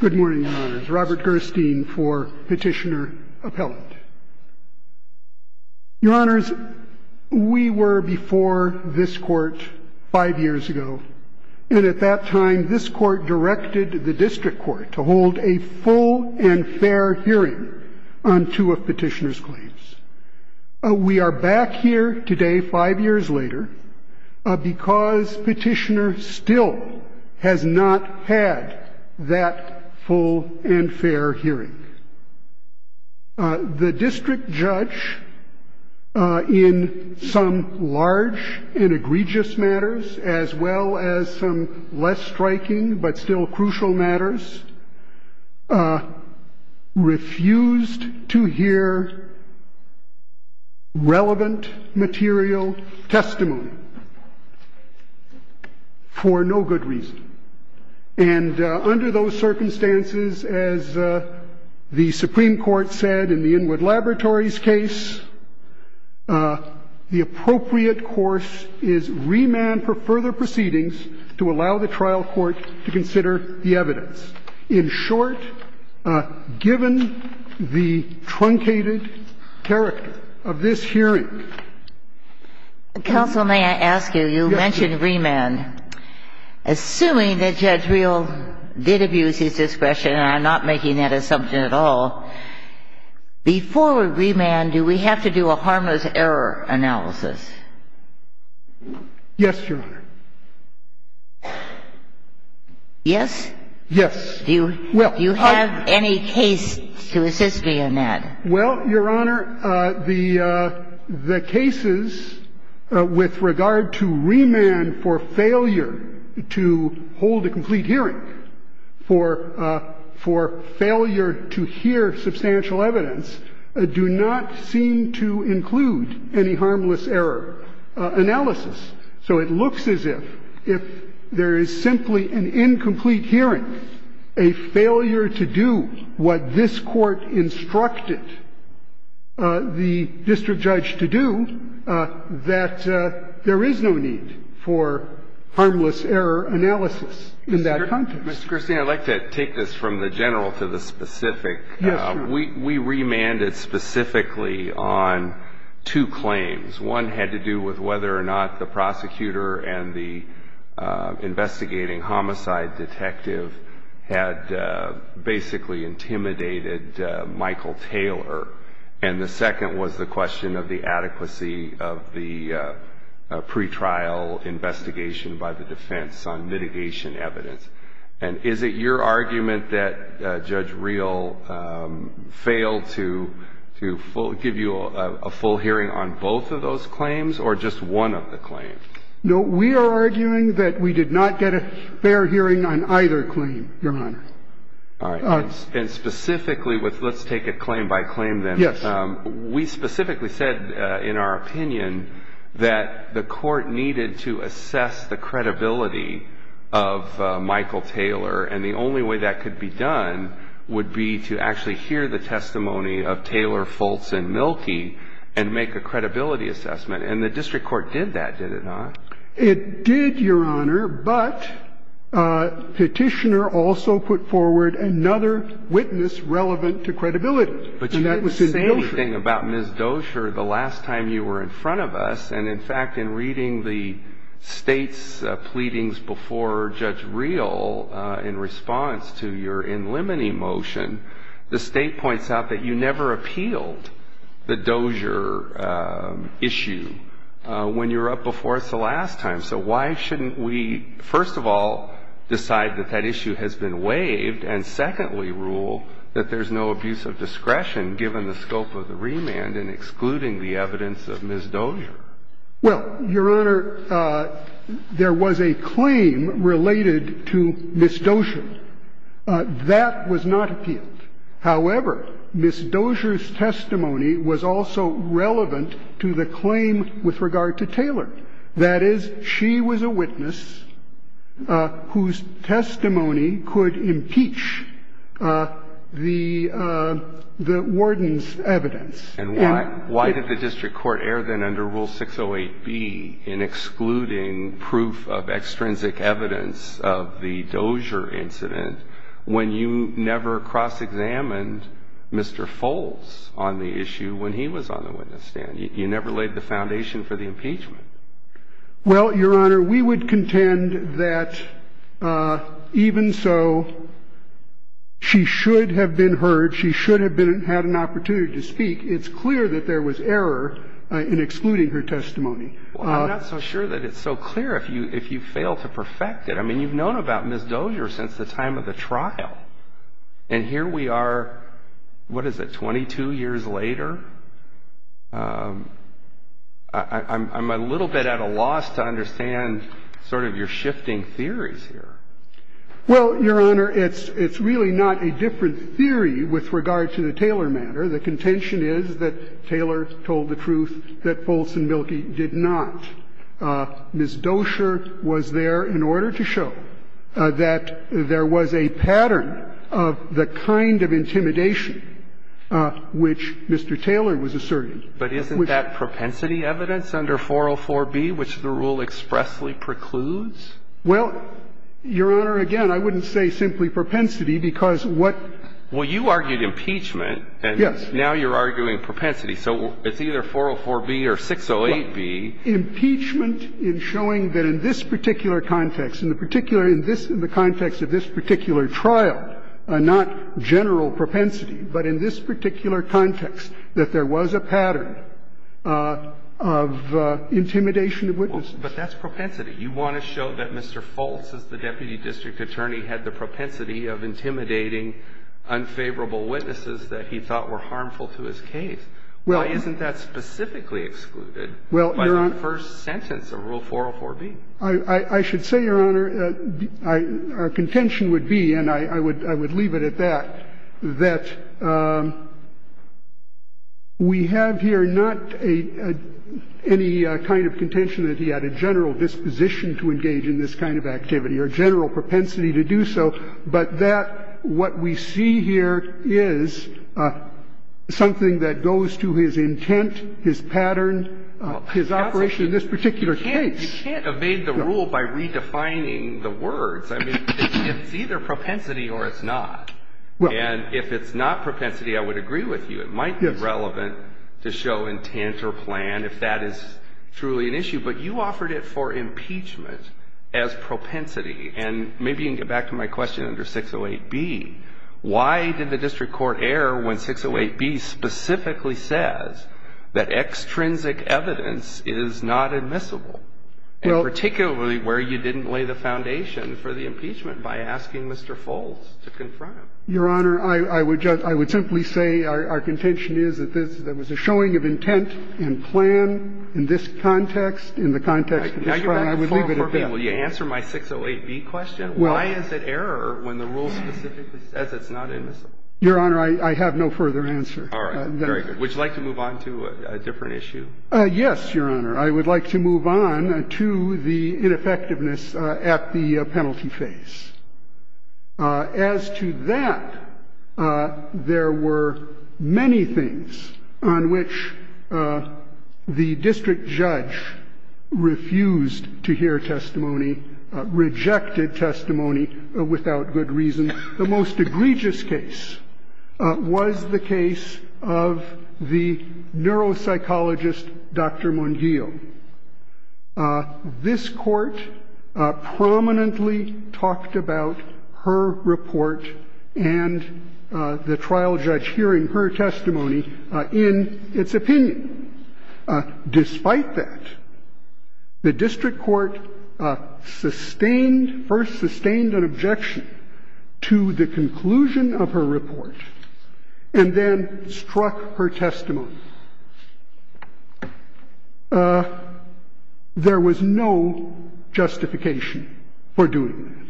Good morning, Your Honors. Robert Gerstein for Petitioner Appellate. Your Honors, we were before this Court five years ago, and at that time this Court directed the District Court to hold a full and fair hearing on two of Petitioner's claims. We are back here today, five years later, because Petitioner still has not had that full and fair hearing. The District Judge, in some large and egregious matters, as well as some less striking but still crucial matters, refused to hear relevant material testimony for no good reason. And under those circumstances, as the Supreme Court said in the Inwood Laboratories case, the appropriate course is remand for further proceedings to allow the trial court to consider the evidence. In short, given the truncated character of this hearing ---- Counsel, may I ask you, you mentioned remand. Assuming that Judge Reel did abuse his discretion, and I'm not making that assumption at all, before remand, do we have to do a harmless error analysis? Yes, Your Honor. Yes? Yes. Do you have any case to assist me in that? Well, Your Honor, the cases with regard to remand for failure to hold a complete hearing, for failure to hear substantial evidence, do not seem to include any harmless error analysis. So it looks as if, if there is simply an incomplete hearing, a failure to do what this Court instructed the District Judge to do, that there is no need for harmless error analysis in that context. Mr. Christine, I'd like to take this from the general to the specific. Yes, Your Honor. We remanded specifically on two claims. One had to do with whether or not the prosecutor and the investigating homicide detective had basically intimidated Michael Taylor. And the second was the question of the adequacy of the pretrial investigation by the defense on mitigation evidence. And is it your argument that Judge Reel failed to give you a full hearing on both of those claims, or just one of the claims? No, we are arguing that we did not get a fair hearing on either claim, Your Honor. All right. And specifically, let's take it claim by claim, then. Yes. We specifically said in our opinion that the Court needed to assess the credibility of Michael Taylor, and the only way that could be done would be to actually hear the testimony of Taylor, Fultz, and Mielke and make a credibility assessment. And the district court did that, did it not? It did, Your Honor, but Petitioner also put forward another witness relevant to credibility. And that was in Dozier. But you did the same thing about Ms. Dozier the last time you were in front of us. And, in fact, in reading the State's pleadings before Judge Reel in response to your in limine motion, the State points out that you never appealed the Dozier issue when you were up before us the last time. So why shouldn't we, first of all, decide that that issue has been waived and, secondly, rule that there's no abuse of discretion given the scope of the remand in excluding the evidence of Ms. Dozier? Well, Your Honor, there was a claim related to Ms. Dozier. That was not appealed. However, Ms. Dozier's testimony was also relevant to the claim with regard to Taylor. That is, she was a witness whose testimony could impeach the warden's evidence. And why did the district court err then under Rule 608B in excluding proof of extrinsic evidence of the Dozier incident when you never cross-examined Mr. Foles on the issue when he was on the witness stand? You never laid the foundation for the impeachment. Well, Your Honor, we would contend that even so, she should have been heard. She should have had an opportunity to speak. It's clear that there was error in excluding her testimony. Well, I'm not so sure that it's so clear if you fail to perfect it. I mean, you've known about Ms. Dozier since the time of the trial. And here we are, what is it, 22 years later? I'm a little bit at a loss to understand sort of your shifting theories here. Well, Your Honor, it's really not a different theory with regard to the Taylor matter. The contention is that Taylor told the truth, that Foles and Mielke did not. Ms. Dozier was there in order to show that there was a pattern of the kind of intimidation which Mr. Taylor was asserting. But isn't that propensity evidence under 404B, which the rule expressly precludes? Well, Your Honor, again, I wouldn't say simply propensity, because what – Well, you argued impeachment. Yes. And now you're arguing propensity. So it's either 404B or 608B. Impeachment in showing that in this particular context, in the particular – in this – in the context of this particular trial, not general propensity, but in this particular context, that there was a pattern of intimidation of witnesses. But that's propensity. You want to show that Mr. Foles, as the deputy district attorney, had the propensity of intimidating unfavorable witnesses that he thought were harmful to his case. Well, isn't that specifically excluded? Well, Your Honor – By the first sentence of Rule 404B. I should say, Your Honor, our contention would be, and I would leave it at that, that we have here not any kind of contention that he had a general disposition to engage in this kind of activity or general propensity to do so, but that what we see here is something that goes to his intent, his pattern, his operation in this particular case. You can't evade the rule by redefining the words. I mean, it's either propensity or it's not. And if it's not propensity, I would agree with you. It might be relevant to show intent or plan if that is truly an issue. But you offered it for impeachment as propensity. And maybe you can get back to my question under 608B. Why did the district court err when 608B specifically says that extrinsic evidence is not admissible, and particularly where you didn't lay the foundation for the impeachment by asking Mr. Foles to confront him? Your Honor, I would just – I would simply say our contention is that there was a showing of intent and plan in this context. This is your question. Will you answer my 608B question? Well – Why is it error when the rule specifically says it's not admissible? Your Honor, I have no further answer. All right. Very good. Would you like to move on to a different issue? Yes, Your Honor. I would like to move on to the ineffectiveness at the penalty phase. As to that, there were many things on which the district judge refused to hear testimony – rejected testimony without good reason. The most egregious case was the case of the neuropsychologist, Dr. Munguio. This court prominently talked about her report and the trial judge hearing her testimony in its opinion. Despite that, the district court sustained – first sustained an objection to the conclusion of her report and then struck her testimony. There was no justification for doing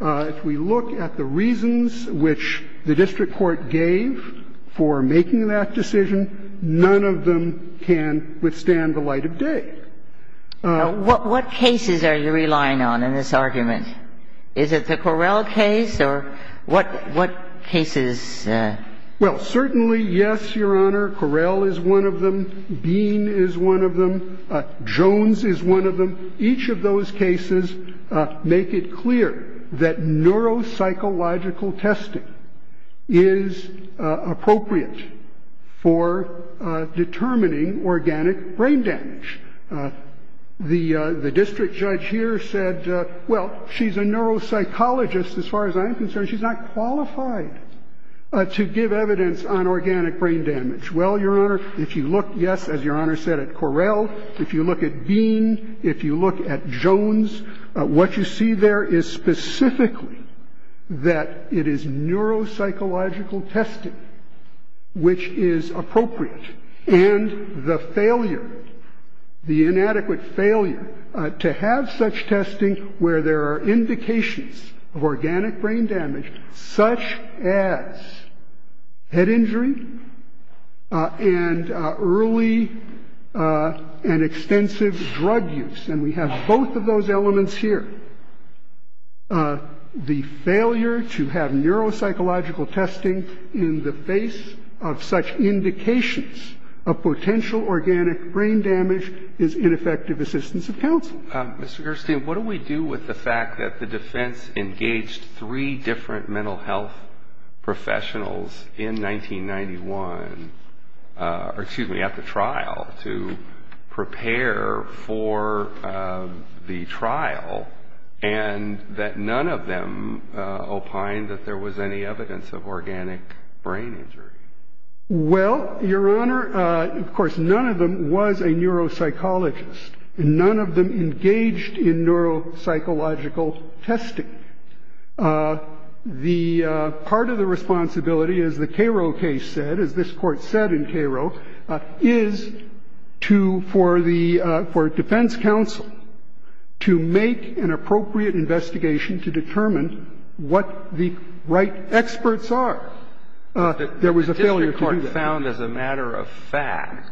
that. If we look at the reasons which the district court gave for making that decision, none of them can withstand the light of day. What cases are you relying on in this argument? Is it the Correll case or what cases – Well, certainly, yes, Your Honor. Correll is one of them. Jones is one of them. Each of those cases make it clear that neuropsychological testing is appropriate for determining organic brain damage. The district judge here said, well, she's a neuropsychologist as far as I'm concerned. She's not qualified to give evidence on organic brain damage. Well, Your Honor, if you look – yes, as Your Honor said, at Correll. If you look at Bean, if you look at Jones, what you see there is specifically that it is neuropsychological testing which is appropriate, and the failure, the inadequate failure to have such testing where there are indications of organic brain damage such as head injury and early and extensive drug use. And we have both of those elements here. The failure to have neuropsychological testing in the face of such indications of potential organic brain damage is ineffective assistance of counsel. Mr. Gerstein, what do we do with the fact that the defense engaged three different mental health professionals in 1991 – or excuse me, at the trial to prepare for the trial, and that none of them opined that there was any evidence of organic brain injury? Well, Your Honor, of course, none of them was a neuropsychologist. And none of them engaged in neuropsychological testing. The part of the responsibility, as the Cairo case said, as this Court said in Cairo, is to – for the – for defense counsel to make an appropriate investigation to determine what the right experts are. There was a failure to do that.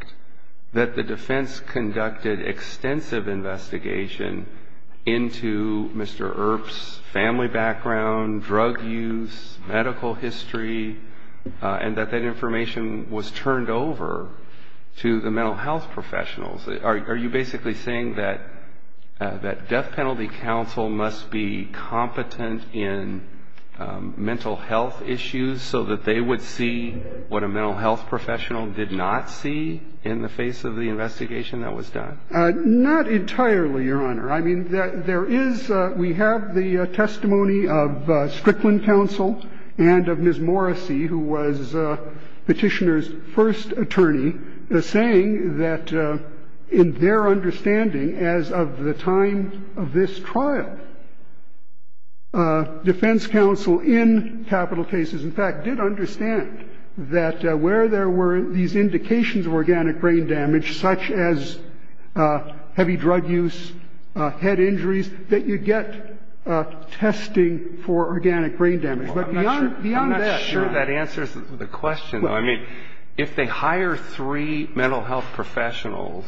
The defense conducted extensive investigation into Mr. Earp's family background, drug use, medical history, and that that information was turned over to the mental health professionals. Are you basically saying that death penalty counsel must be competent in mental health issues so that they would see what a mental health professional did not see in the face of the investigation that was done? Not entirely, Your Honor. I mean, there is – we have the testimony of Strickland counsel and of Ms. Morrissey, who was Petitioner's first attorney, saying that in their understanding as of the time of this trial, defense counsel in capital cases, in fact, did understand that where there were these indications of organic brain damage, such as heavy drug use, head injuries, that you get testing for organic brain damage. But beyond that – I'm not sure that answers the question. I mean, if they hire three mental health professionals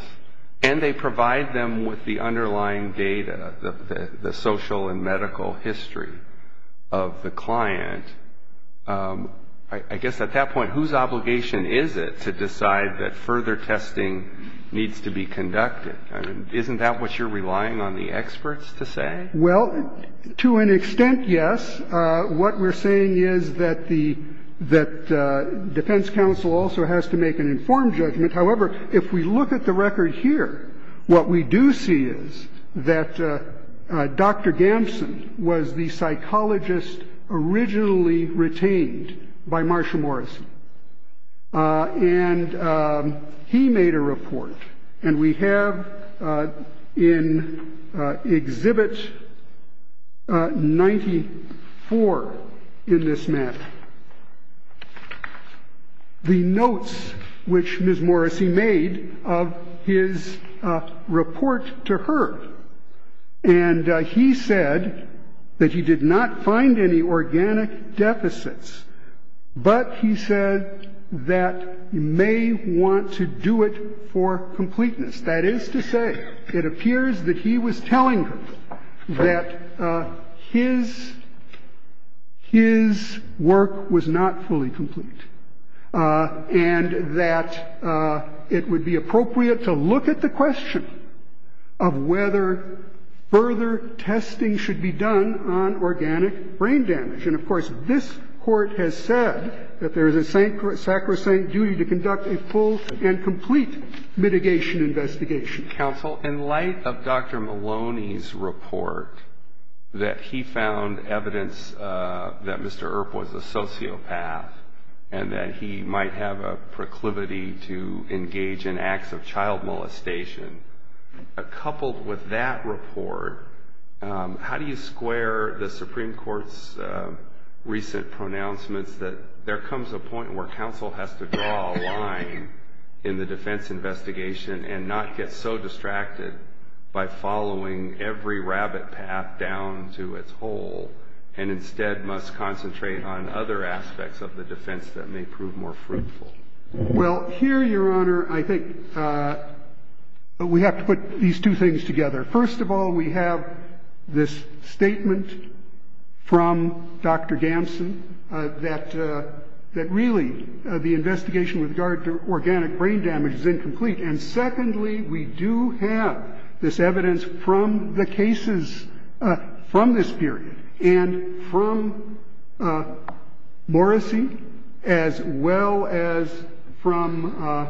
and they provide them with the underlying data, the social and medical history of the client, I guess at that point, whose obligation is it to decide that further testing needs to be conducted? I mean, isn't that what you're relying on the experts to say? Well, to an extent, yes. What we're saying is that the defense counsel also has to make an informed judgment. However, if we look at the record here, what we do see is that Dr. Gamson was the psychologist originally retained by Marshall Morrissey. And he made a report. And we have in Exhibit 94 in this map the notes which Ms. Morrissey made of his report to her. And he said that he did not find any organic deficits, but he said that he may want to do it for completeness. That is to say, it appears that he was telling her that his work was not fully complete and that it would be appropriate to look at the question of whether further testing should be done on organic brain damage. And, of course, this Court has said that there is a sacrosanct duty to conduct a full and complete mitigation investigation. Counsel, in light of Dr. Maloney's report that he found evidence that Mr. Earp was a sociopath and that he might have a proclivity to engage in acts of child molestation, coupled with that report, how do you square the Supreme Court's recent pronouncements that there comes a point where counsel has to draw a line in the defense investigation and not get so distracted by following every rabbit path down to its hole and instead must concentrate on other aspects of the defense that may prove more fruitful? Well, here, Your Honor, I think we have to put these two things together. First of all, we have this statement from Dr. Gamson that really the investigation with regard to organic brain damage is incomplete. And secondly, we do have this evidence from the cases from this period and from Morrissey, as well as from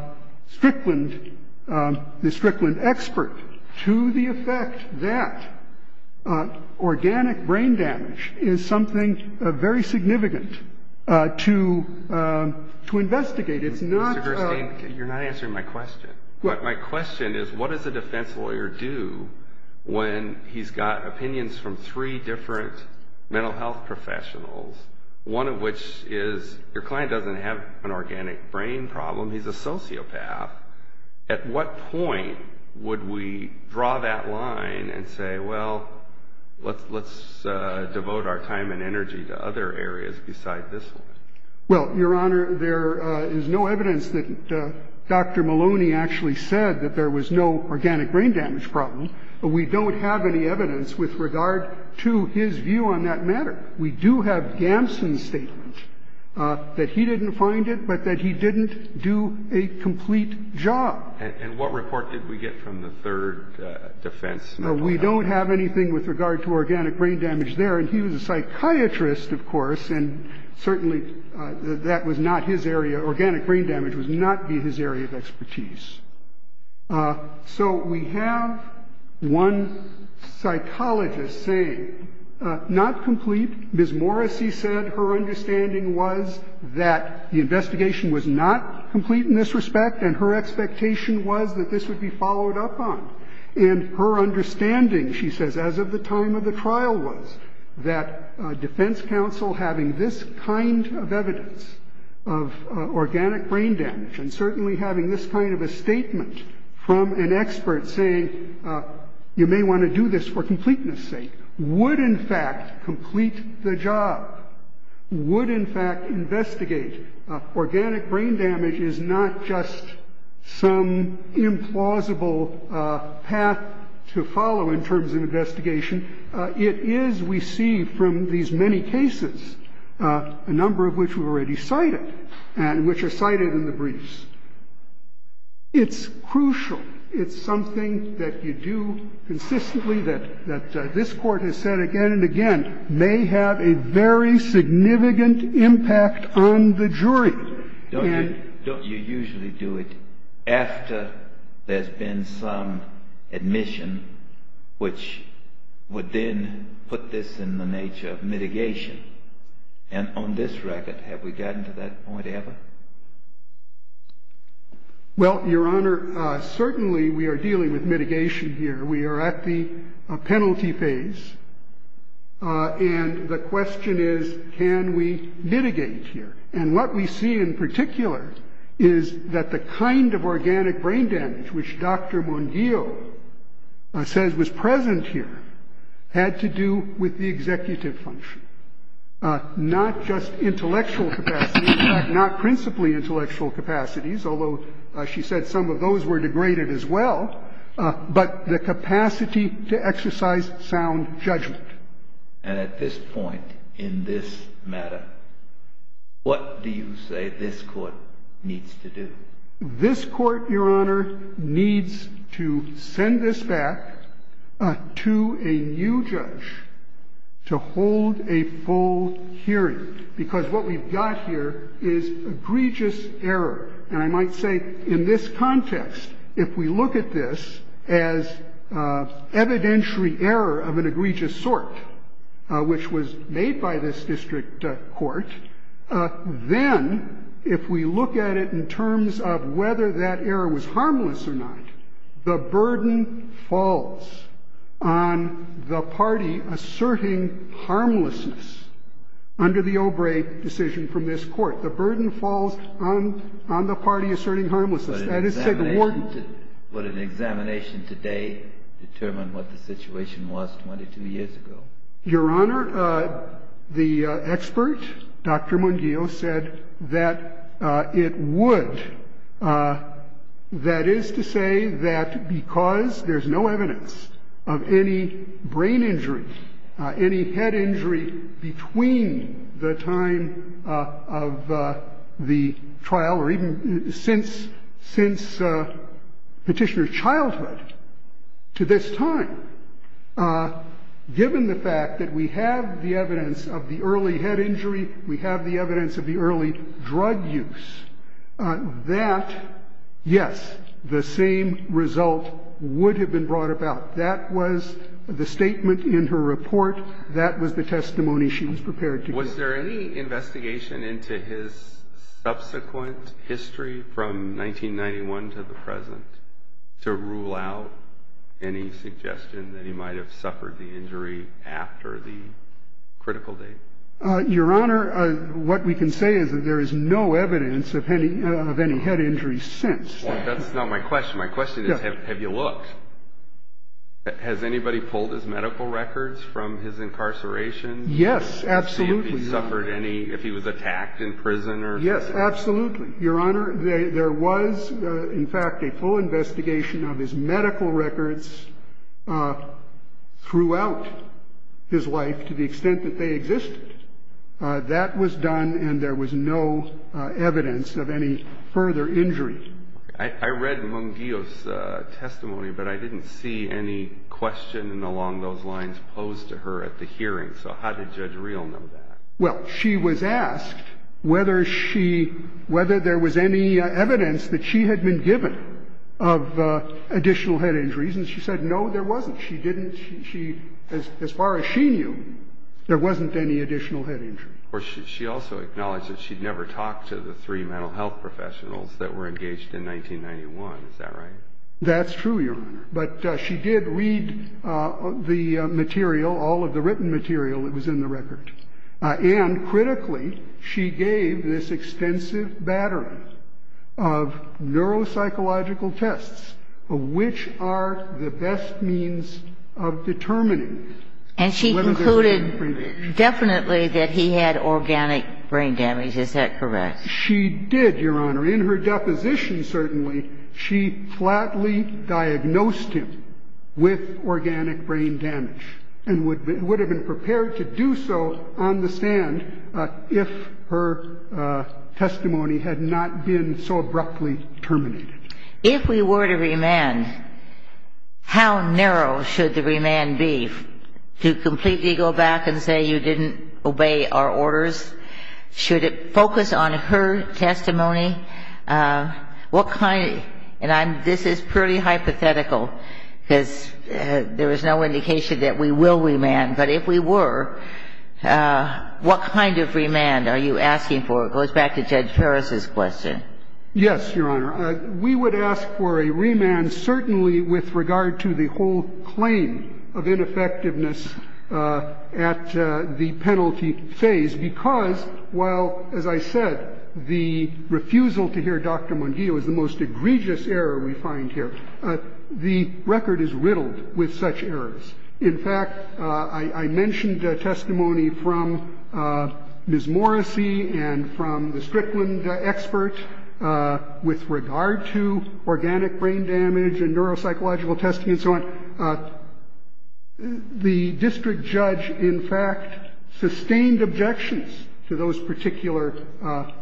Strickland, the Strickland expert, to the effect that organic brain damage is something very significant to investigate. Mr. Gerstein, you're not answering my question. My question is what does a defense lawyer do when he's got opinions from three different mental health professionals, one of which is your client doesn't have an organic brain problem, he's a sociopath. At what point would we draw that line and say, well, let's devote our time and energy to other areas besides this one? Well, Your Honor, there is no evidence that Dr. Maloney actually said that there was no organic brain damage problem, but we don't have any evidence with regard to his view on that matter. We do have Gamson's statement that he didn't find it, but that he didn't do a complete job. And what report did we get from the third defense? We don't have anything with regard to organic brain damage there. And he was a psychiatrist, of course, and certainly that was not his area. Organic brain damage was not his area of expertise. So we have one psychologist saying not complete. Ms. Morrissey said her understanding was that the investigation was not complete in this respect and her expectation was that this would be followed up on. And her understanding, she says, as of the time of the trial was that defense counsel having this kind of evidence of organic brain damage and certainly having this kind of a statement from an expert saying you may want to do this for completeness sake, would in fact complete the job, would in fact investigate. Organic brain damage is not just some implausible path to follow in terms of investigation. It is, we see from these many cases, a number of which were already cited and which are cited in the briefs. It's crucial. It's something that you do consistently, that this Court has said again and again, may have a very significant impact on the jury. Don't you usually do it after there's been some admission, which would then put this in the nature of mitigation? And on this record, have we gotten to that point ever? Well, Your Honor, certainly we are dealing with mitigation here. We are at the penalty phase. And the question is, can we mitigate here? And what we see in particular is that the kind of organic brain damage, which Dr. Munguio says was present here, had to do with the executive function, not just intellectual capacity, not principally intellectual capacities, although she said some of those were degraded as well, but the capacity to exercise sound judgment. And at this point in this matter, what do you say this Court needs to do? This Court, Your Honor, needs to send this back to a new judge to hold a full hearing, because what we've got here is egregious error. And I might say in this context, if we look at this as evidentiary error of an egregious sort, which was made by this district court, then if we look at it in terms of whether that error was harmless or not, the burden falls on the party asserting harmlessness under the Obrey decision from this Court. The burden falls on the party asserting harmlessness. That is to say, the warden — But an examination today determined what the situation was 22 years ago. Your Honor, the expert, Dr. Munguio, said that it would. That is to say that because there's no evidence of any brain injury, any head injury between the time of the trial or even since Petitioner's childhood to this time, given the fact that we have the evidence of the early head injury, we have the evidence of the early drug use, that, yes, the same result would have been brought about. That was the statement in her report. That was the testimony she was prepared to give. Was there any investigation into his subsequent history from 1991 to the present to rule out any suggestion that he might have suffered the injury after the critical date? Your Honor, what we can say is that there is no evidence of any head injury since then. Well, that's not my question. My question is, have you looked? Has anybody pulled his medical records from his incarceration? Yes, absolutely. To see if he suffered any — if he was attacked in prison or — Yes, absolutely. Your Honor, there was, in fact, a full investigation of his medical records throughout his life to the extent that they existed. That was done, and there was no evidence of any further injury. I read Mungillo's testimony, but I didn't see any question along those lines posed to her at the hearing. So how did Judge Reel know that? Well, she was asked whether she — whether there was any evidence that she had been given of additional head injuries, and she said, no, there wasn't. She didn't — she — as far as she knew, there wasn't any additional head injury. Of course, she also acknowledged that she'd never talked to the three mental health professionals that were engaged in 1991. Is that right? That's true, Your Honor. But she did read the material, all of the written material that was in the record. And critically, she gave this extensive battery of neuropsychological tests of which are the best means of determining whether there was any brain damage. And she concluded definitely that he had organic brain damage. Is that correct? She did, Your Honor. In her deposition, certainly, she flatly diagnosed him with organic brain damage and would have been prepared to do so on the stand if her testimony had not been so abruptly terminated. If we were to remand, how narrow should the remand be to completely go back and say you didn't obey our orders? Should it focus on her testimony? What kind — and I'm — this is pretty hypothetical because there is no indication that we will remand. But if we were, what kind of remand are you asking for? It goes back to Judge Paris's question. Yes, Your Honor. We would ask for a remand certainly with regard to the whole claim of ineffectiveness at the penalty phase because while, as I said, the refusal to hear Dr. Munguia was the most egregious error we find here, the record is riddled with such errors. In fact, I mentioned testimony from Ms. Morrissey and from the Strickland expert with regard to organic brain damage and neuropsychological testing and so on. The district judge, in fact, sustained objections to those particular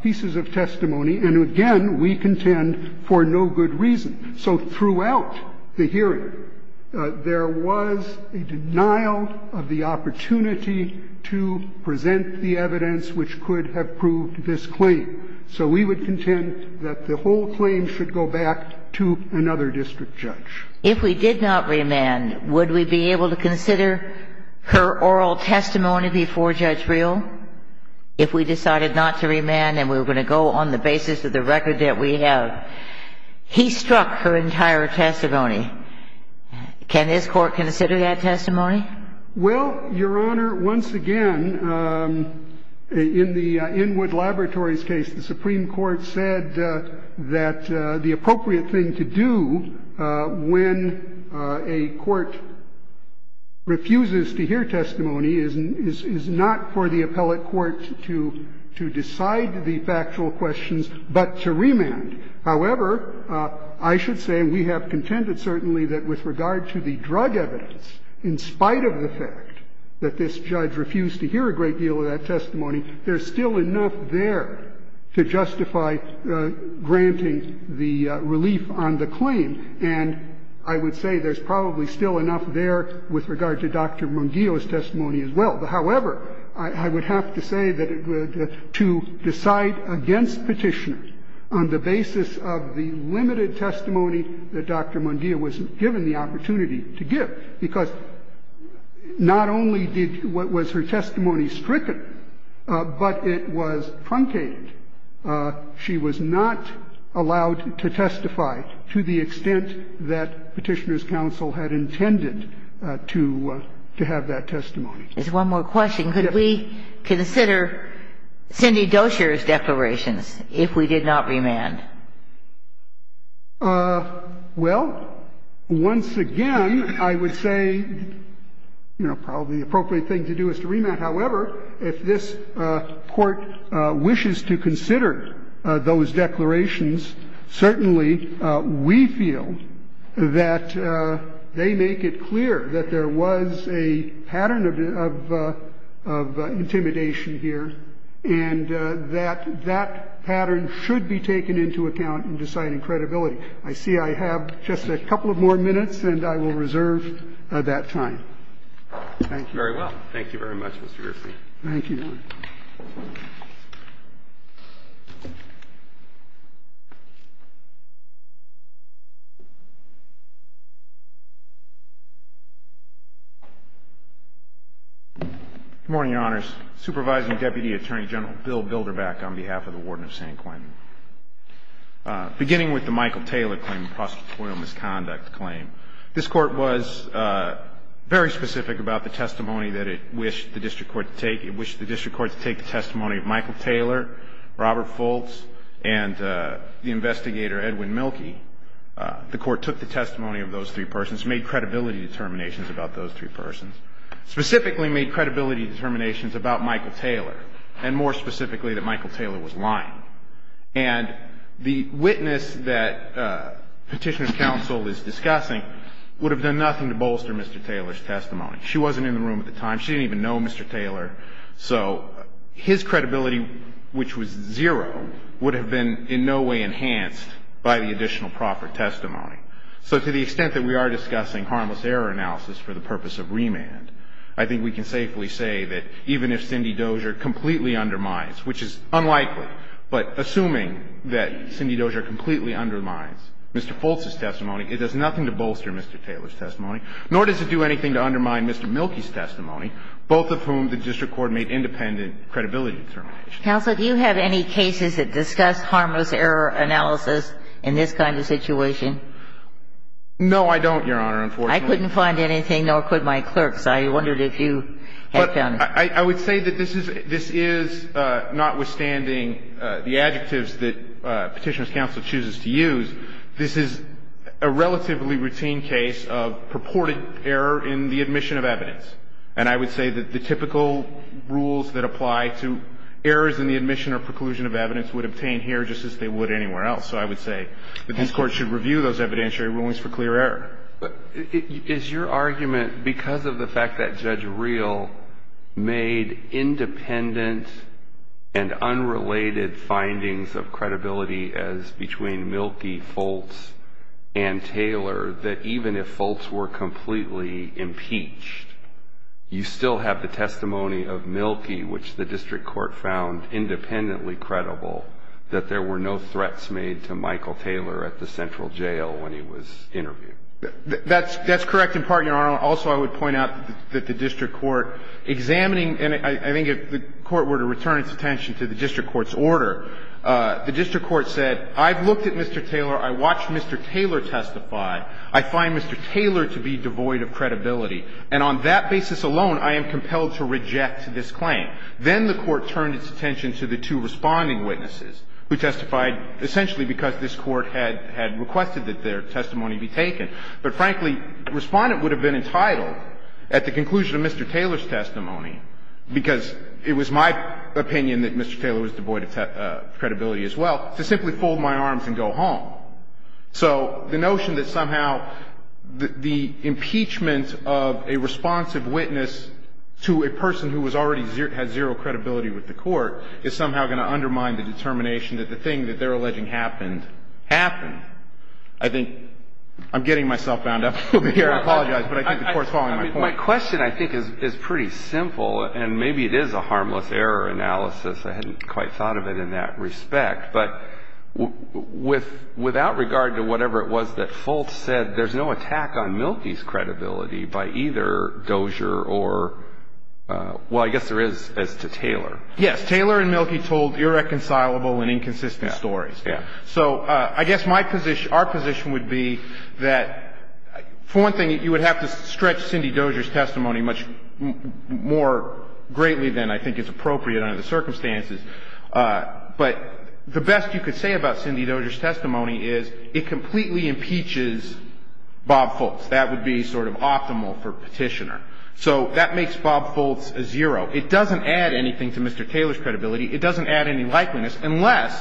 pieces of testimony. And again, we contend for no good reason. So throughout the hearing, there was a denial of the opportunity to present the evidence which could have proved this claim. So we would contend that the whole claim should go back to another district judge. If we did not remand, would we be able to consider her oral testimony before Judge Reel if we decided not to remand and we were going to go on the basis of the record that we have? He struck her entire testimony. Can this Court consider that testimony? Well, Your Honor, once again, in the Inwood Laboratories case, the Supreme Court said that the appropriate thing to do when a court refuses to hear testimony is not for the appellate court to decide the factual questions, but to remand. However, I should say we have contended certainly that with regard to the drug evidence, in spite of the fact that this judge refused to hear a great deal of that testimony, there's still enough there to justify granting the relief on the claim. And I would say there's probably still enough there with regard to Dr. Mungillo's testimony as well. However, I would have to say that to decide against Petitioner on the basis of the not only was her testimony stricken, but it was truncated. She was not allowed to testify to the extent that Petitioner's counsel had intended to have that testimony. There's one more question. Could we consider Cindy Dozier's declarations if we did not remand? Well, once again, I would say, you know, probably the appropriate thing to do is to remand. However, if this Court wishes to consider those declarations, certainly we feel that they make it clear that there was a pattern of intimidation here and that that pattern should be taken into account in deciding credibility. I see I have just a couple of more minutes, and I will reserve that time. Thank you. Very well. Thank you very much, Mr. Griffey. Good morning, Your Honors. Supervising Deputy Attorney General Bill Bilderbach on behalf of the Warden of San Quentin. Beginning with the Michael Taylor claim, the prosecutorial misconduct claim, this Court was very specific about the testimony that it wished the district court to take. It wished the district court to take the testimony of Michael Taylor, Robert Fultz, and the investigator Edwin Mielke. The Court took the testimony of those three persons, made credibility determinations about those three persons. Specifically made credibility determinations about Michael Taylor, and more specifically that Michael Taylor was lying. And the witness that Petitioner's Counsel is discussing would have done nothing to bolster Mr. Taylor's testimony. She wasn't in the room at the time. She didn't even know Mr. Taylor. So his credibility, which was zero, would have been in no way enhanced by the additional proper testimony. So to the extent that we are discussing harmless error analysis for the purpose of remand, I think we can safely say that even if Cindy Dozier completely undermines, which is unlikely, but assuming that Cindy Dozier completely undermines Mr. Fultz's testimony, it does nothing to bolster Mr. Taylor's testimony, nor does it do anything to undermine Mr. Mielke's testimony, both of whom the district court made independent credibility determinations. Counsel, do you have any cases that discuss harmless error analysis in this kind of situation? No, I don't, Your Honor, unfortunately. I couldn't find anything, nor could my clerks. I wondered if you had found it. I would say that this is, notwithstanding the adjectives that Petitioner's Counsel chooses to use, this is a relatively routine case of purported error in the admission of evidence. And I would say that the typical rules that apply to errors in the admission or preclusion of evidence would obtain here just as they would anywhere else. So I would say that this Court should review those evidentiary rulings for clear error. But is your argument, because of the fact that Judge Reel made independent and unrelated findings of credibility as between Mielke, Fultz, and Taylor, that even if Fultz were completely impeached, you still have the testimony of Mielke, which the district court found independently credible, that there were no threats made to Michael Taylor at the central jail when he was interviewed? That's correct in part, Your Honor. Also, I would point out that the district court examining, and I think if the court were to return its attention to the district court's order, the district court said, I've looked at Mr. Taylor. I watched Mr. Taylor testify. I find Mr. Taylor to be devoid of credibility. And on that basis alone, I am compelled to reject this claim. Then the court turned its attention to the two responding witnesses who testified essentially because this Court had requested that their testimony be taken. But frankly, Respondent would have been entitled at the conclusion of Mr. Taylor's testimony, because it was my opinion that Mr. Taylor was devoid of credibility as well, to simply fold my arms and go home. So the notion that somehow the impeachment of a responsive witness to a person who has already had zero credibility with the court is somehow going to undermine the determination that the thing that they're alleging happened, happened. I think I'm getting myself bound up here. I apologize, but I think the Court's following my point. My question, I think, is pretty simple, and maybe it is a harmless error analysis. I hadn't quite thought of it in that respect. But without regard to whatever it was that Fultz said, there's no attack on Mielke's credibility by either Dozier or, well, I guess there is as to Taylor. Yes. Taylor and Mielke told irreconcilable and inconsistent stories. Yeah. So I guess my position, our position would be that, for one thing, you would have to stretch Cindy Dozier's testimony much more greatly than I think it's appropriate under the circumstances. But the best you could say about Cindy Dozier's testimony is it completely impeaches Bob Fultz. That would be sort of optimal for Petitioner. So that makes Bob Fultz a zero. It doesn't add anything to Mr. Taylor's credibility. It doesn't add any likeliness unless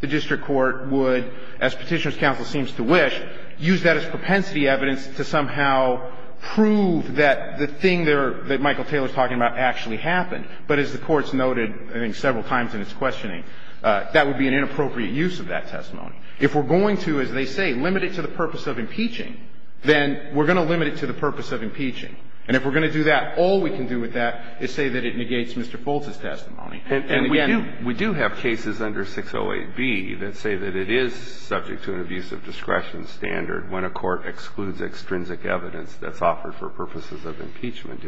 the district court would, as Petitioner's counsel seems to wish, use that as propensity evidence to somehow prove that the thing that Michael Taylor's talking about actually happened. But as the Court's noted, I think, several times in its questioning, that would be an inappropriate use of that testimony. If we're going to, as they say, limit it to the purpose of impeaching, then we're going to limit it to the purpose of impeaching. And if we're going to do that, all we can do with that is say that it negates Mr. Fultz's testimony. And again, we do have cases under 608B that say that it is subject to an abuse of discretion standard when a court excludes extrinsic evidence that's offered for purposes of impeachment.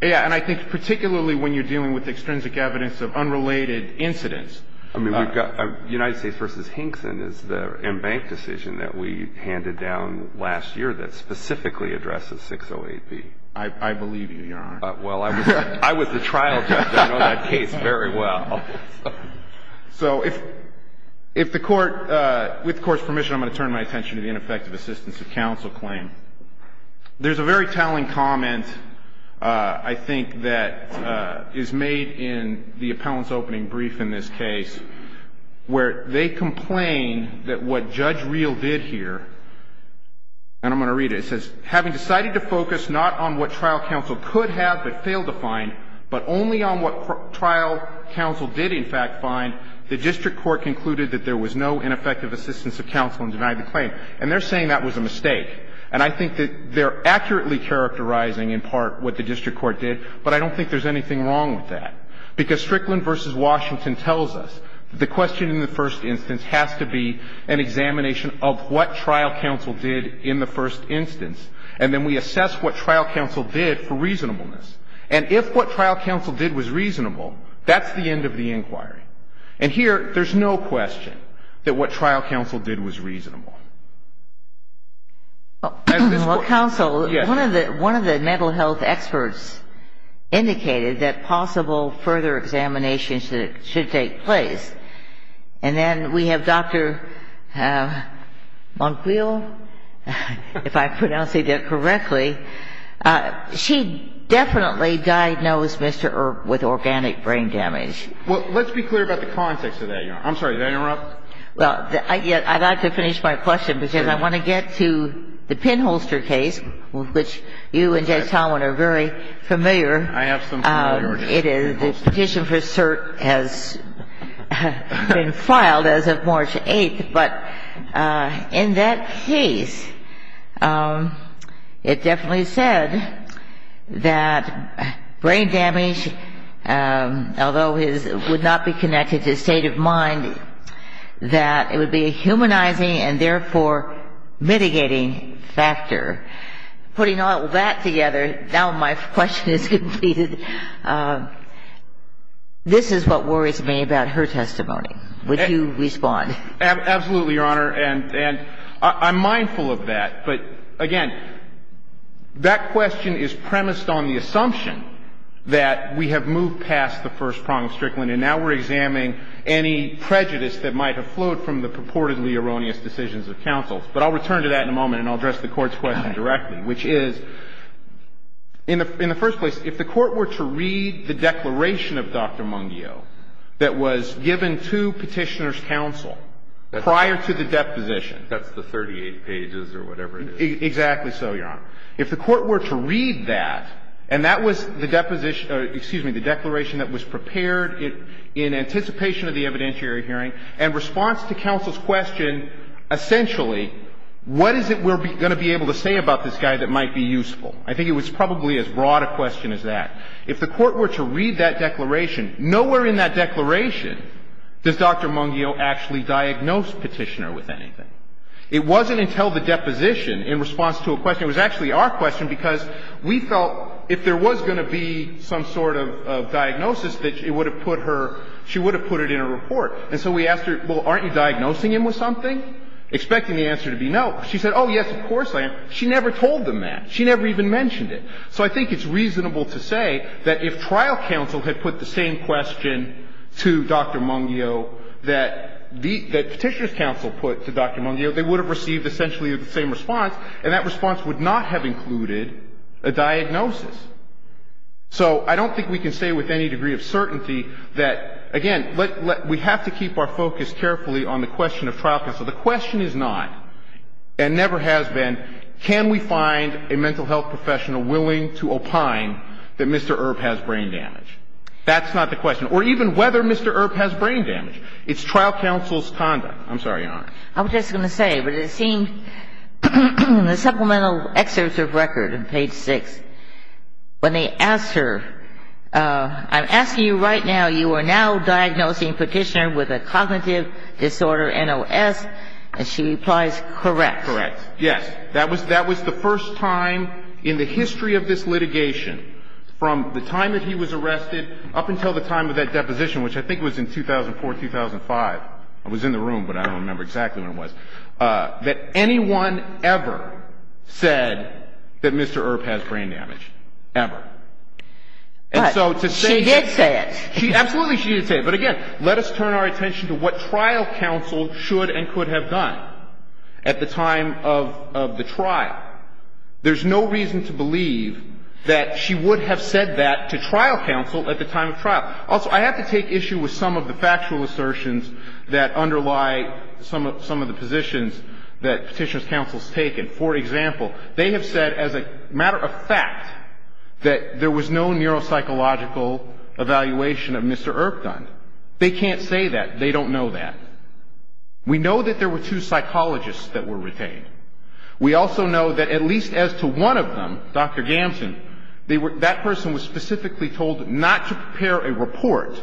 Yeah. And I think particularly when you're dealing with extrinsic evidence of unrelated incidents. I mean, we've got United States v. Hinkson is the embanked decision that we handed down last year that specifically addresses 608B. I believe you, Your Honor. Well, I was the trial judge. I know that case very well. So if the Court, with the Court's permission, I'm going to turn my attention to the ineffective assistance of counsel claim. There's a very telling comment, I think, that is made in the appellant's opening brief in this case, where they complain that what Judge Reel did here, and I'm going to read it. It says, Having decided to focus not on what trial counsel could have but failed to find, but only on what trial counsel did in fact find, the district court concluded that there was no ineffective assistance of counsel in denying the claim. And they're saying that was a mistake. And I think that they're accurately characterizing in part what the district court did. But I don't think there's anything wrong with that. Because Strickland v. Washington tells us that the question in the first instance has to be an examination of what trial counsel did in the first instance. And then we assess what trial counsel did for reasonableness. And if what trial counsel did was reasonable, that's the end of the inquiry. And here, there's no question that what trial counsel did was reasonable. Well, counsel, one of the mental health experts indicated that possible further examinations should take place. And then we have Dr. Monquiel, if I'm pronouncing that correctly. She definitely diagnosed Mr. Earp with organic brain damage. Well, let's be clear about the context of that, Your Honor. I'm sorry, did I interrupt? Well, I'd like to finish my question, because I want to get to the pinholster case, which you and Judge Tomlin are very familiar. I have some familiarity. The petition for cert has been filed as of March 8th. But in that case, it definitely said that brain damage, although it would not be connected to state of mind, that it would be a humanizing and, therefore, mitigating factor. Putting all that together, now my question is completed. This is what worries me about her testimony. Would you respond? Absolutely, Your Honor. And I'm mindful of that. But, again, that question is premised on the assumption that we have moved past the first prong of Strickland, and now we're examining any prejudice that might have flowed from the purportedly erroneous decisions of counsel. But I'll return to that in a moment, and I'll address the Court's question directly, which is, in the first place, if the Court were to read the declaration of Dr. Mungio that was given to Petitioner's counsel prior to the deposition. That's the 38 pages or whatever it is. Exactly so, Your Honor. If the Court were to read that, and that was the deposition or, excuse me, the declaration that was prepared in anticipation of the evidentiary hearing, and response to counsel's question, essentially, what is it we're going to be able to say about this guy that might be useful? I think it was probably as broad a question as that. If the Court were to read that declaration, nowhere in that declaration does Dr. Mungio actually diagnose Petitioner with anything. It wasn't until the deposition in response to a question, it was actually our question because we felt if there was going to be some sort of diagnosis that it would have put her, she would have put it in a report. And so we asked her, well, aren't you diagnosing him with something? Expecting the answer to be no. She said, oh, yes, of course I am. She never told them that. She never even mentioned it. So I think it's reasonable to say that if trial counsel had put the same question to Dr. Mungio that Petitioner's counsel put to Dr. Mungio, they would have received essentially the same response, and that response would not have included a diagnosis. So I don't think we can say with any degree of certainty that, again, we have to keep our focus carefully on the question of trial counsel. The question is not, and never has been, can we find a mental health professional willing to opine that Mr. Earp has brain damage? That's not the question. Or even whether Mr. Earp has brain damage. I'm sorry, Your Honor. I was just going to say, but it seemed the supplemental excerpts of record on page 6, when they asked her, I'm asking you right now, you are now diagnosing Petitioner with a cognitive disorder, NOS, and she replies, correct. Correct. Yes. That was the first time in the history of this litigation from the time that he was arrested up until the time of that deposition, which I think was in 2004, 2005. I was in the room, but I don't remember exactly when it was. That anyone ever said that Mr. Earp has brain damage. Ever. But she did say it. Absolutely she did say it. But, again, let us turn our attention to what trial counsel should and could have done at the time of the trial. There's no reason to believe that she would have said that to trial counsel at the time of trial. Also, I have to take issue with some of the factual assertions that underlie some of the positions that Petitioner's counsel has taken. For example, they have said as a matter of fact that there was no neuropsychological evaluation of Mr. Earp done. They can't say that. They don't know that. We know that there were two psychologists that were retained. We also know that at least as to one of them, Dr. Gamson, that person was specifically told not to prepare a report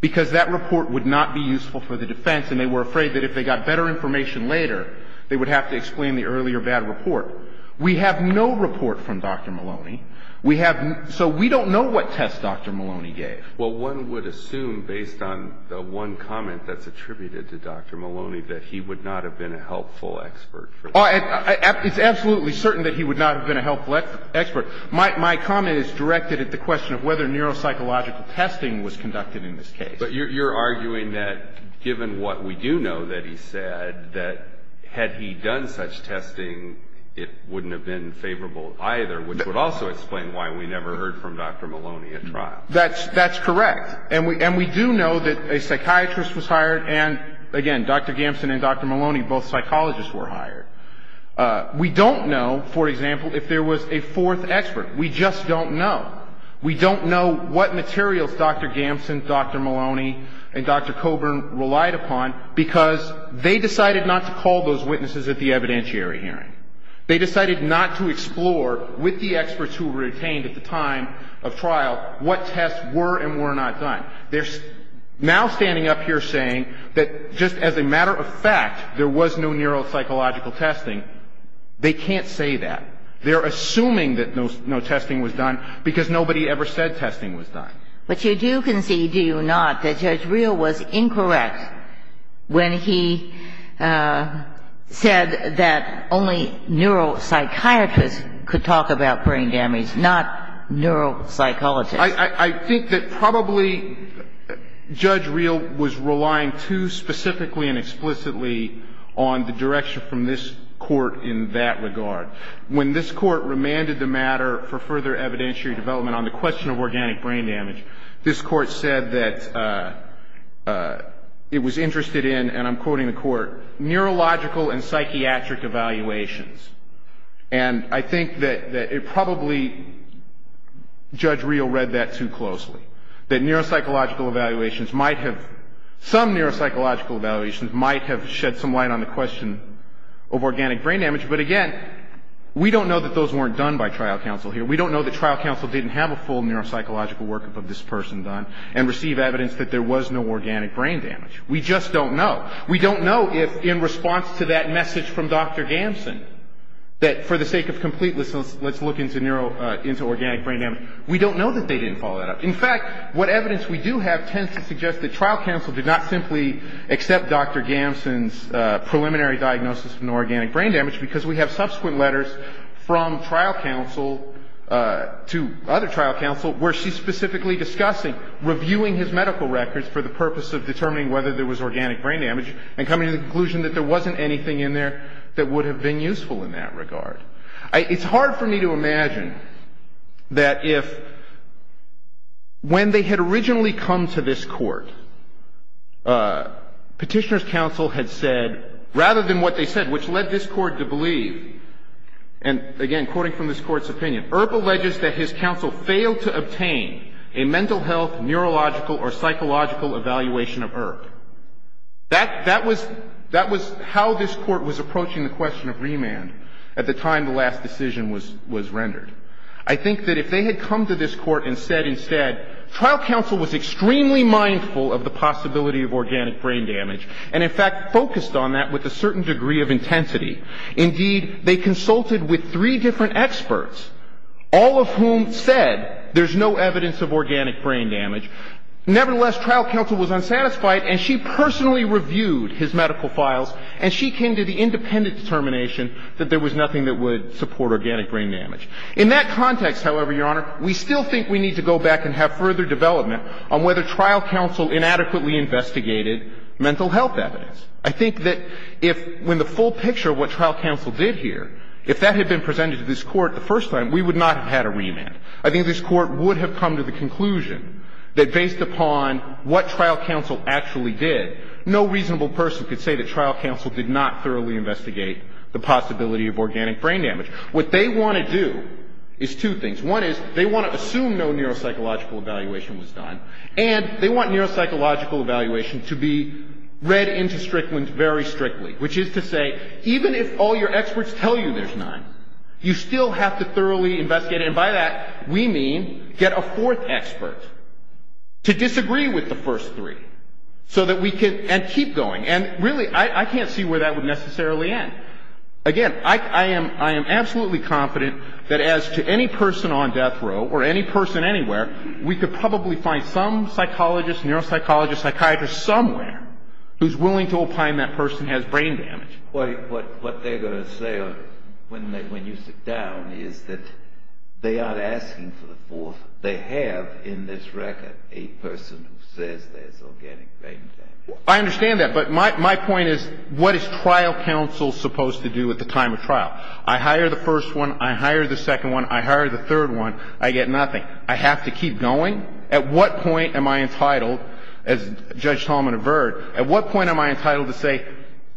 because that report would not be useful for the defense, and they were afraid that if they got better information later, they would have to explain the earlier bad report. We have no report from Dr. Maloney. We have no – so we don't know what test Dr. Maloney gave. Well, one would assume based on the one comment that's attributed to Dr. Maloney that he would not have been a helpful expert. It's absolutely certain that he would not have been a helpful expert. My comment is directed at the question of whether neuropsychological testing was conducted in this case. But you're arguing that given what we do know that he said, that had he done such testing, it wouldn't have been favorable either, which would also explain why we never heard from Dr. Maloney at trial. That's correct. And we do know that a psychiatrist was hired and, again, Dr. Gamson and Dr. Maloney, both psychologists were hired. We don't know, for example, if there was a fourth expert. We just don't know. We don't know what materials Dr. Gamson, Dr. Maloney, and Dr. Coburn relied upon because they decided not to call those witnesses at the evidentiary hearing. They decided not to explore with the experts who were retained at the time of trial what tests were and were not done. They're now standing up here saying that just as a matter of fact, there was no neuropsychological testing. They can't say that. They're assuming that no testing was done because nobody ever said testing was done. But you do concede, do you not, that Judge Reel was incorrect when he said that only neuropsychiatrists could talk about brain damage, not neuropsychologists. I think that probably Judge Reel was relying too specifically and explicitly on the direction from this Court in that regard. When this Court remanded the matter for further evidentiary development on the question of organic brain damage, this Court said that it was interested in, and I'm quoting the Court, neurological and psychiatric evaluations. And I think that it probably, Judge Reel read that too closely, that neuropsychological evaluations might have, some neuropsychological evaluations might have shed some light on the question of organic brain damage. But again, we don't know that those weren't done by trial counsel here. We don't know that trial counsel didn't have a full neuropsychological workup of this person done and receive evidence that there was no organic brain damage. We just don't know. We don't know if in response to that message from Dr. Gamson that for the sake of completeness, let's look into organic brain damage, we don't know that they didn't follow that up. In fact, what evidence we do have tends to suggest that trial counsel did not simply accept Dr. Gamson's preliminary diagnosis of no organic brain damage because we have subsequent letters from trial counsel to other trial counsel where she's specifically discussing reviewing his medical records for the purpose of determining whether there was organic brain damage and coming to the conclusion that there wasn't anything in there that would have been useful in that regard. It's hard for me to imagine that if when they had originally come to this Court, Petitioner's counsel had said, rather than what they said, which led this Court to believe, and again, quoting from this Court's opinion, Earp alleges that his counsel failed to obtain a mental health, neurological, or psychological evaluation of Earp. That was how this Court was approaching the question of remand at the time the last decision was rendered. I think that if they had come to this Court and said instead, trial counsel was extremely mindful of the possibility of organic brain damage and, in fact, focused on that with a certain degree of intensity. Indeed, they consulted with three different experts, all of whom said there's no evidence of organic brain damage. Nevertheless, trial counsel was unsatisfied and she personally reviewed his medical files and she came to the independent determination that there was nothing that would support organic brain damage. In that context, however, Your Honor, we still think we need to go back and have further development on whether trial counsel inadequately investigated mental health evidence. I think that if when the full picture of what trial counsel did here, if that had been presented to this Court the first time, we would not have had a remand. I think this Court would have come to the conclusion that based upon what trial counsel actually did, no reasonable person could say that trial counsel did not thoroughly investigate the possibility of organic brain damage. What they want to do is two things. One is they want to assume no neuropsychological evaluation was done and they want neuropsychological evaluation to be read into Strickland very strictly, which is to say even if all your experts tell you there's none, you still have to thoroughly investigate it. And by that, we mean get a fourth expert to disagree with the first three so that we can keep going. And really, I can't see where that would necessarily end. Again, I am absolutely confident that as to any person on death row or any person anywhere, we could probably find some psychologist, neuropsychologist, psychiatrist somewhere who's willing to opine that person has brain damage. What they're going to say when you sit down is that they aren't asking for the fourth. They have in this record a person who says there's organic brain damage. I understand that, but my point is what is trial counsel supposed to do at the time of trial? I hire the first one. I hire the second one. I hire the third one. I get nothing. I have to keep going? At what point am I entitled, as Judge Tolman averred, at what point am I entitled to say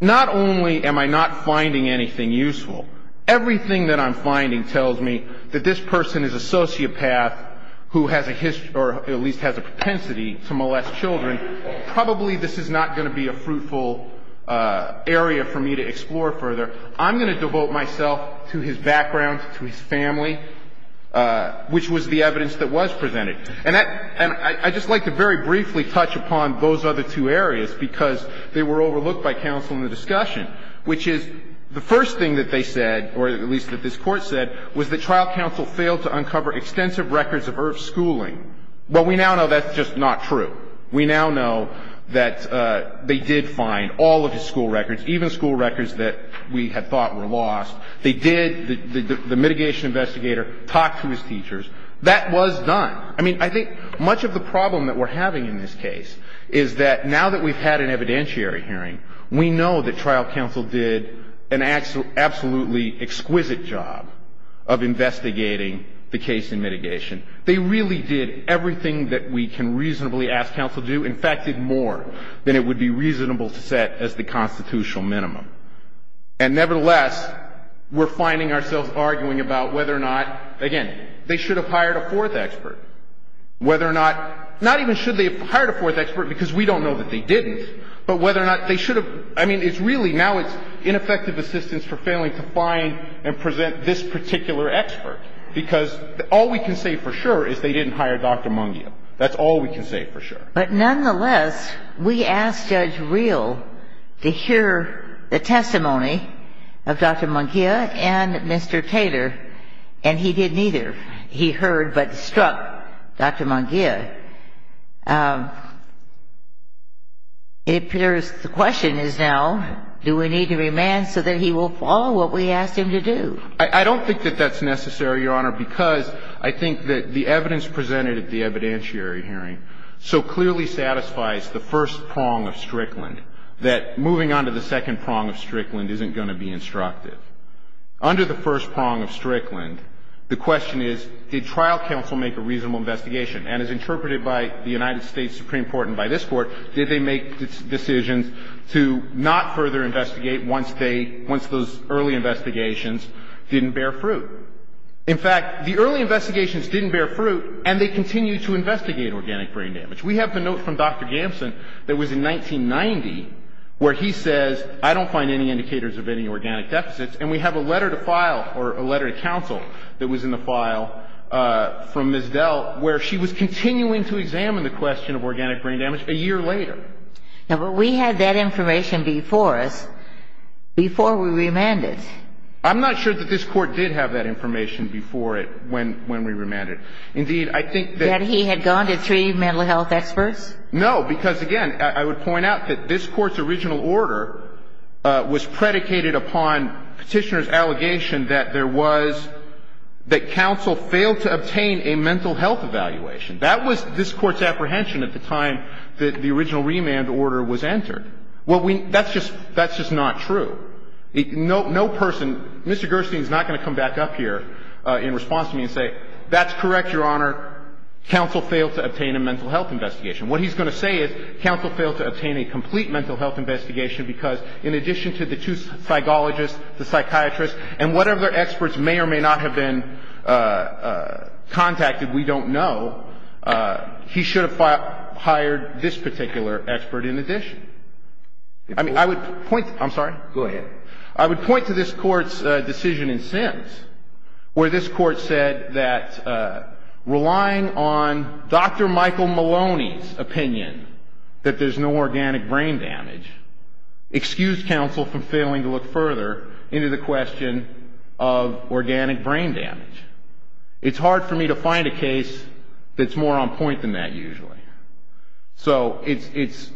not only am I not finding anything useful, everything that I'm finding tells me that this person is a sociopath who has a history or at least has a propensity to molest children. Probably this is not going to be a fruitful area for me to explore further. I'm going to devote myself to his background, to his family, which was the evidence that was presented. And I'd just like to very briefly touch upon those other two areas because they were overlooked by counsel in the discussion, which is the first thing that they said, or at least that this Court said, was that trial counsel failed to uncover extensive records of Irv's schooling. Well, we now know that's just not true. We now know that they did find all of his school records, even school records that we had thought were lost. They did. The mitigation investigator talked to his teachers. That was done. I mean, I think much of the problem that we're having in this case is that now that we've had an evidentiary hearing, we know that trial counsel did an absolutely exquisite job of investigating the case in mitigation. They really did everything that we can reasonably ask counsel to do. In fact, did more than it would be reasonable to set as the constitutional minimum. And nevertheless, we're finding ourselves arguing about whether or not, again, they should have hired a fourth expert, whether or not, not even should they have hired a fourth expert because we don't know that they didn't, but whether or not they should have. I mean, it's really, now it's ineffective assistance for failing to find and present this particular expert, because all we can say for sure is they didn't hire Dr. Mungia. That's all we can say for sure. But nonetheless, we asked Judge Reel to hear the testimony of Dr. Mungia and Mr. Taylor, and he didn't either. He heard but struck Dr. Mungia. It appears the question is now, do we need to remand so that he will follow what we asked him to do? I don't think that that's necessary, Your Honor, because I think that the evidence presented at the evidentiary hearing so clearly satisfies the first prong of Strickland, that moving on to the second prong of Strickland isn't going to be instructive. Under the first prong of Strickland, the question is, did trial counsel make a reasonable investigation? And as interpreted by the United States Supreme Court and by this Court, did they make decisions to not further investigate once those early investigations didn't bear fruit? In fact, the early investigations didn't bear fruit, and they continued to investigate organic brain damage. We have the note from Dr. Gamson that was in 1990 where he says, I don't find any indicators of any organic deficits, and we have a letter to file or a letter to counsel that was in the file from Ms. Dell, where she was continuing to examine the question of organic brain damage a year later. Now, but we had that information before us, before we remanded. I'm not sure that this Court did have that information before it when we remanded. Indeed, I think that he had gone to three mental health experts. No, because, again, I would point out that this Court's original order was predicated upon Petitioner's allegation that there was, that counsel failed to obtain a mental health evaluation. That was this Court's apprehension at the time that the original remand order was entered. Well, that's just not true. No person, Mr. Gerstein is not going to come back up here in response to me and say, that's correct, Your Honor, counsel failed to obtain a mental health investigation. What he's going to say is counsel failed to obtain a complete mental health investigation because in addition to the two psychologists, the psychiatrists, and whatever other experts may or may not have been contacted, we don't know, he should have hired this particular expert in addition. I mean, I would point, I'm sorry. Go ahead. I would point to this Court's decision in Sims where this Court said that relying on Dr. Michael Maloney's opinion that there's no organic brain damage excused counsel from failing to look further into the question of organic brain damage. It's hard for me to find a case that's more on point than that usually. So it's,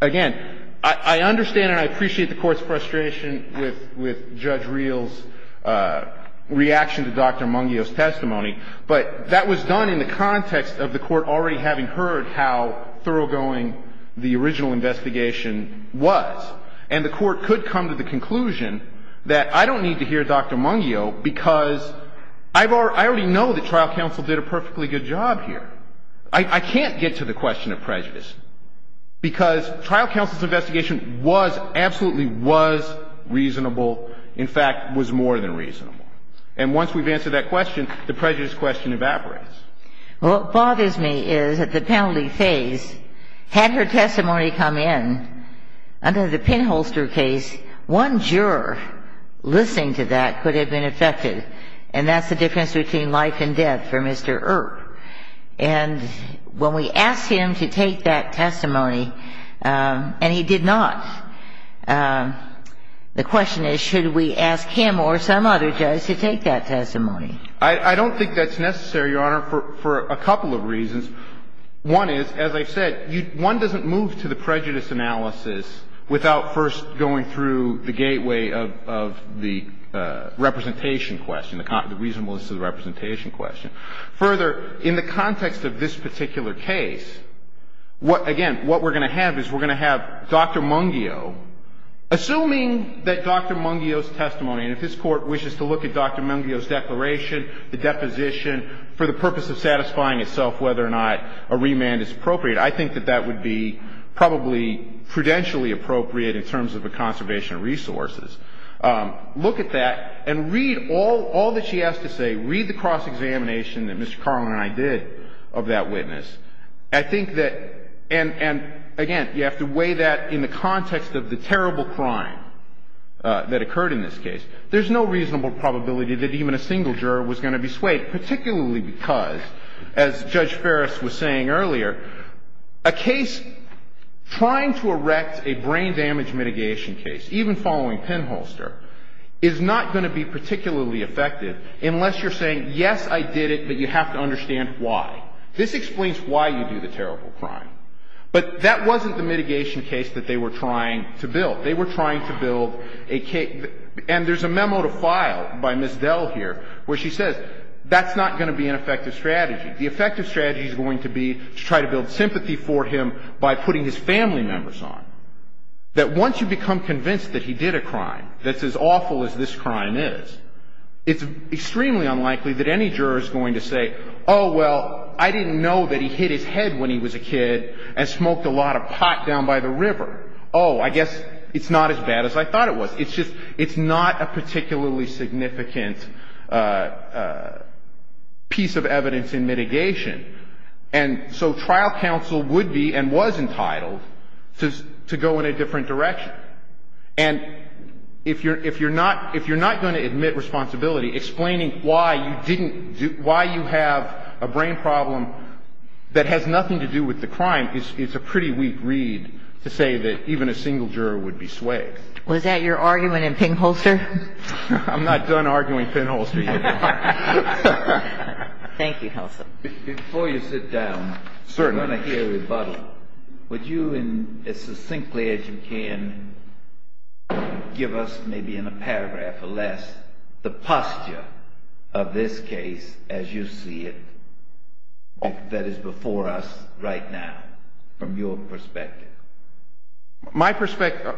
again, I understand and I appreciate the Court's frustration with Judge Reel's reaction to Dr. Mungio's testimony, but that was done in the context of the Court already having heard how thoroughgoing the original investigation was. And the Court could come to the conclusion that I don't need to hear Dr. Mungio because I already know that trial counsel did a perfectly good job here. I can't get to the question of prejudice because trial counsel's investigation was, absolutely was, reasonable, in fact, was more than reasonable. And once we've answered that question, the prejudice question evaporates. Well, what bothers me is that the penalty phase, had her testimony come in under the pinholster case, one juror listening to that could have been affected, and that's the difference between life and death for Mr. Earp. And when we asked him to take that testimony, and he did not, the question is, should we ask him or some other judge to take that testimony? I don't think that's necessary, Your Honor, for a couple of reasons. One is, as I said, one doesn't move to the prejudice analysis without first going through the gateway of the representation question, the reasonableness of the representation question. Further, in the context of this particular case, again, what we're going to have is we're going to have Dr. Mungio. Assuming that Dr. Mungio's testimony, and if this Court wishes to look at Dr. Mungio's testimony, I think that that would be probably prudentially appropriate in terms of the conservation of resources. Look at that and read all that she has to say. Read the cross-examination that Mr. Carlin and I did of that witness. I think that, and again, you have to weigh that in the context of the terrible crime that occurred in this case. There's no reasonable probability that even a single juror was going to be swayed, particularly because, as Judge Ferris was saying earlier, a case trying to erect a brain damage mitigation case, even following pinholster, is not going to be particularly effective unless you're saying, yes, I did it, but you have to understand why. This explains why you do the terrible crime. But that wasn't the mitigation case that they were trying to build. They were trying to build a case, and there's a memo to file by Ms. Dell here where she says that's not going to be an effective strategy. The effective strategy is going to be to try to build sympathy for him by putting his family members on, that once you become convinced that he did a crime that's as awful as this crime is, it's extremely unlikely that any juror is going to say, oh, well, I didn't know that he hit his head when he was a kid and smoked a lot of pot down by the river. Oh, I guess it's not as bad as I thought it was. It's just it's not a particularly significant piece of evidence in mitigation. And so trial counsel would be and was entitled to go in a different direction. And if you're not going to admit responsibility, explaining why you didn't do why you have a brain problem that has nothing to do with the crime is a pretty weak read to say that even a single juror would be swayed. Was that your argument in Pinholster? I'm not done arguing Pinholster yet. Thank you, Nelson. Before you sit down, we're going to hear a rebuttal. Would you as succinctly as you can give us maybe in a paragraph or less the posture of this case as you see it that is before us right now from your perspective? My perspective,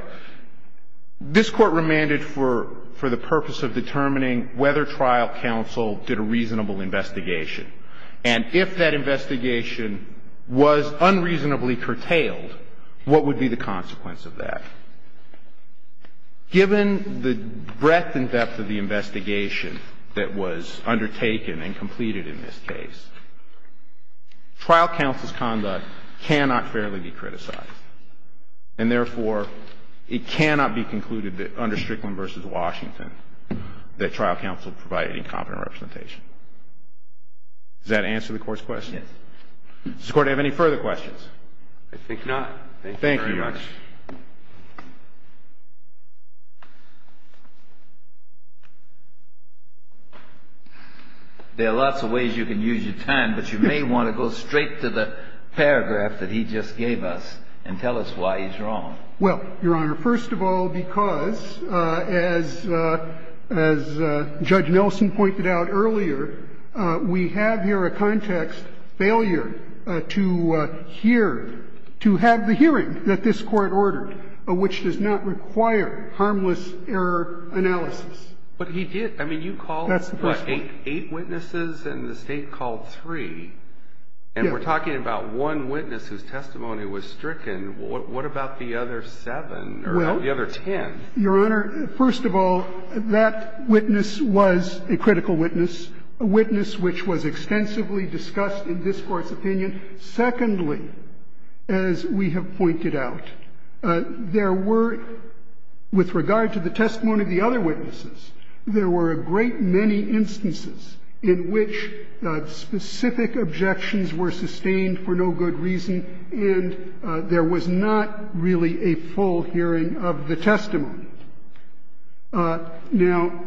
this court remanded for the purpose of determining whether trial counsel did a reasonable investigation. And if that investigation was unreasonably curtailed, what would be the consequence of that? Given the breadth and depth of the investigation that was undertaken and completed in this case, trial counsel's conduct cannot fairly be criticized. And therefore, it cannot be concluded that under Strickland v. Washington that trial counsel provided incompetent representation. Does that answer the Court's question? Yes. Does the Court have any further questions? I think not. Thank you very much. There are lots of ways you can use your time, but you may want to go straight to the paragraph that he just gave us and tell us why he's wrong. Well, Your Honor, first of all, because as Judge Nelson pointed out earlier, we have here a context failure to hear, to have the hearing that this Court ordered, which does not require harmless error analysis. But he did. I mean, you called eight witnesses and the State called three. Yes. And we're talking about one witness whose testimony was stricken. What about the other seven or the other ten? Well, Your Honor, first of all, that witness was a critical witness, a witness which was extensively discussed in this Court's opinion. Secondly, as we have pointed out, there were, with regard to the testimony of the other witnesses, there were a great many instances in which specific objections were sustained for no good reason and there was not really a full hearing of the testimony. Now,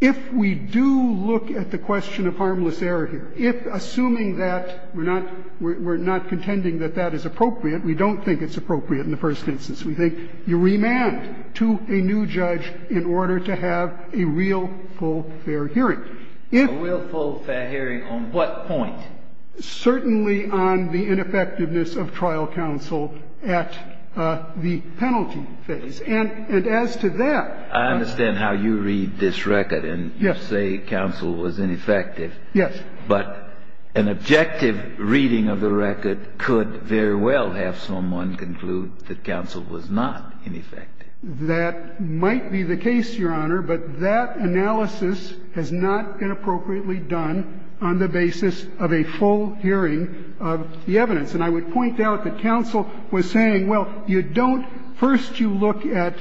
if we do look at the question of harmless error here, if assuming that we're not contending that that is appropriate, we don't think it's appropriate in the first instance, we think you remand to a new judge in order to have a real, full, fair hearing. A real, full, fair hearing on what point? Certainly on the ineffectiveness of trial counsel at the penalty phase. And as to that, I understand how you read this record and you say counsel was ineffective. Yes. But an objective reading of the record could very well have someone conclude that counsel was not ineffective. That might be the case, Your Honor, but that analysis has not been appropriately done on the basis of a full hearing of the evidence. And I would point out that counsel was saying, well, you don't – first you look at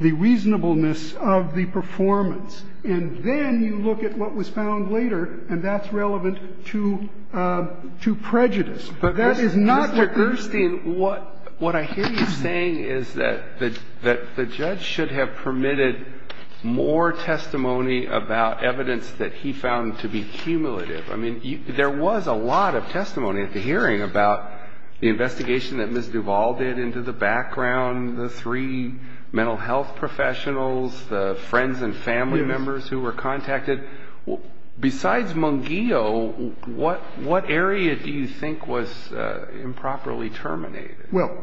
the reasonableness of the performance, and then you look at what was found later, and that's relevant to prejudice. But that is not what we're seeing. But, Mr. Gerstein, what I hear you saying is that the judge should have permitted more testimony about evidence that he found to be cumulative. I mean, there was a lot of testimony at the hearing about the investigation that Ms. Duvall did into the background, the three mental health professionals, the friends and family members who were contacted. Besides Mungillo, what area do you think was improperly terminated? Well,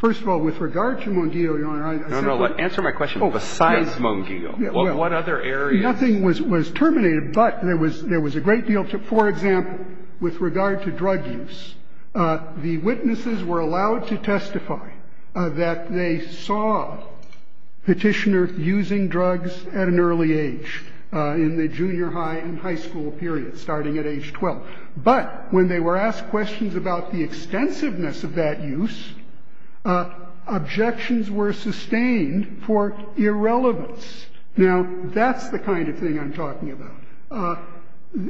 first of all, with regard to Mungillo, Your Honor, I said that – No, no. Besides Mungillo, what other areas – Nothing was terminated, but there was a great deal to – for example, with regard to drug use, the witnesses were allowed to testify that they saw Petitioner using drugs at an early age, in the junior high and high school period, starting at age 12. But when they were asked questions about the extensiveness of that use, objections were sustained for irrelevance. Now, that's the kind of thing I'm talking about.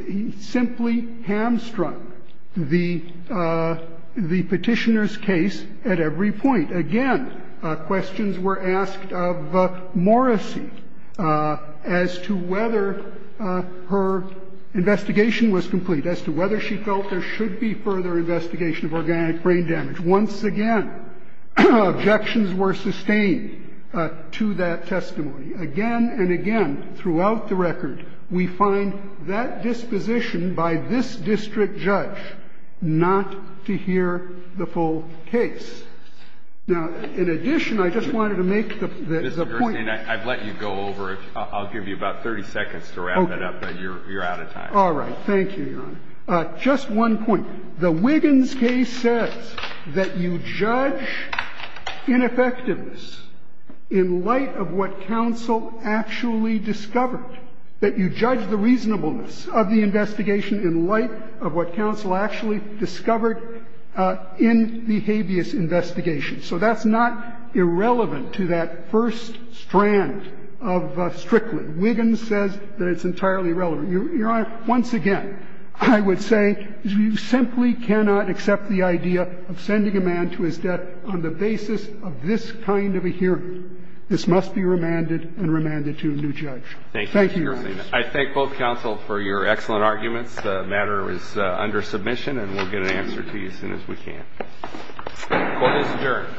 He simply hamstrung the Petitioner's case at every point. Again, questions were asked of Morrissey as to whether her investigation was complete, as to whether she felt there should be further investigation of organic brain damage. Once again, objections were sustained to that testimony. Again and again, throughout the record, we find that disposition by this district judge not to hear the full case. Now, in addition, I just wanted to make the point – Mr. Gershengorn, I'd let you go over it. I'll give you about 30 seconds to wrap it up, but you're out of time. All right. Thank you, Your Honor. Just one point. The Wiggins case says that you judge ineffectiveness in light of what counsel actually discovered, that you judge the reasonableness of the investigation in light of what counsel actually discovered in the habeas investigation. So that's not irrelevant to that first strand of Strickland. Wiggins says that it's entirely relevant. Your Honor, once again, I would say you simply cannot accept the idea of sending a man to his death on the basis of this kind of a hearing. This must be remanded and remanded to a new judge. Thank you, Your Honor. Thank you, Mr. Gershengorn. I thank both counsel for your excellent arguments. The matter is under submission, and we'll get an answer to you as soon as we can. Court is adjourned.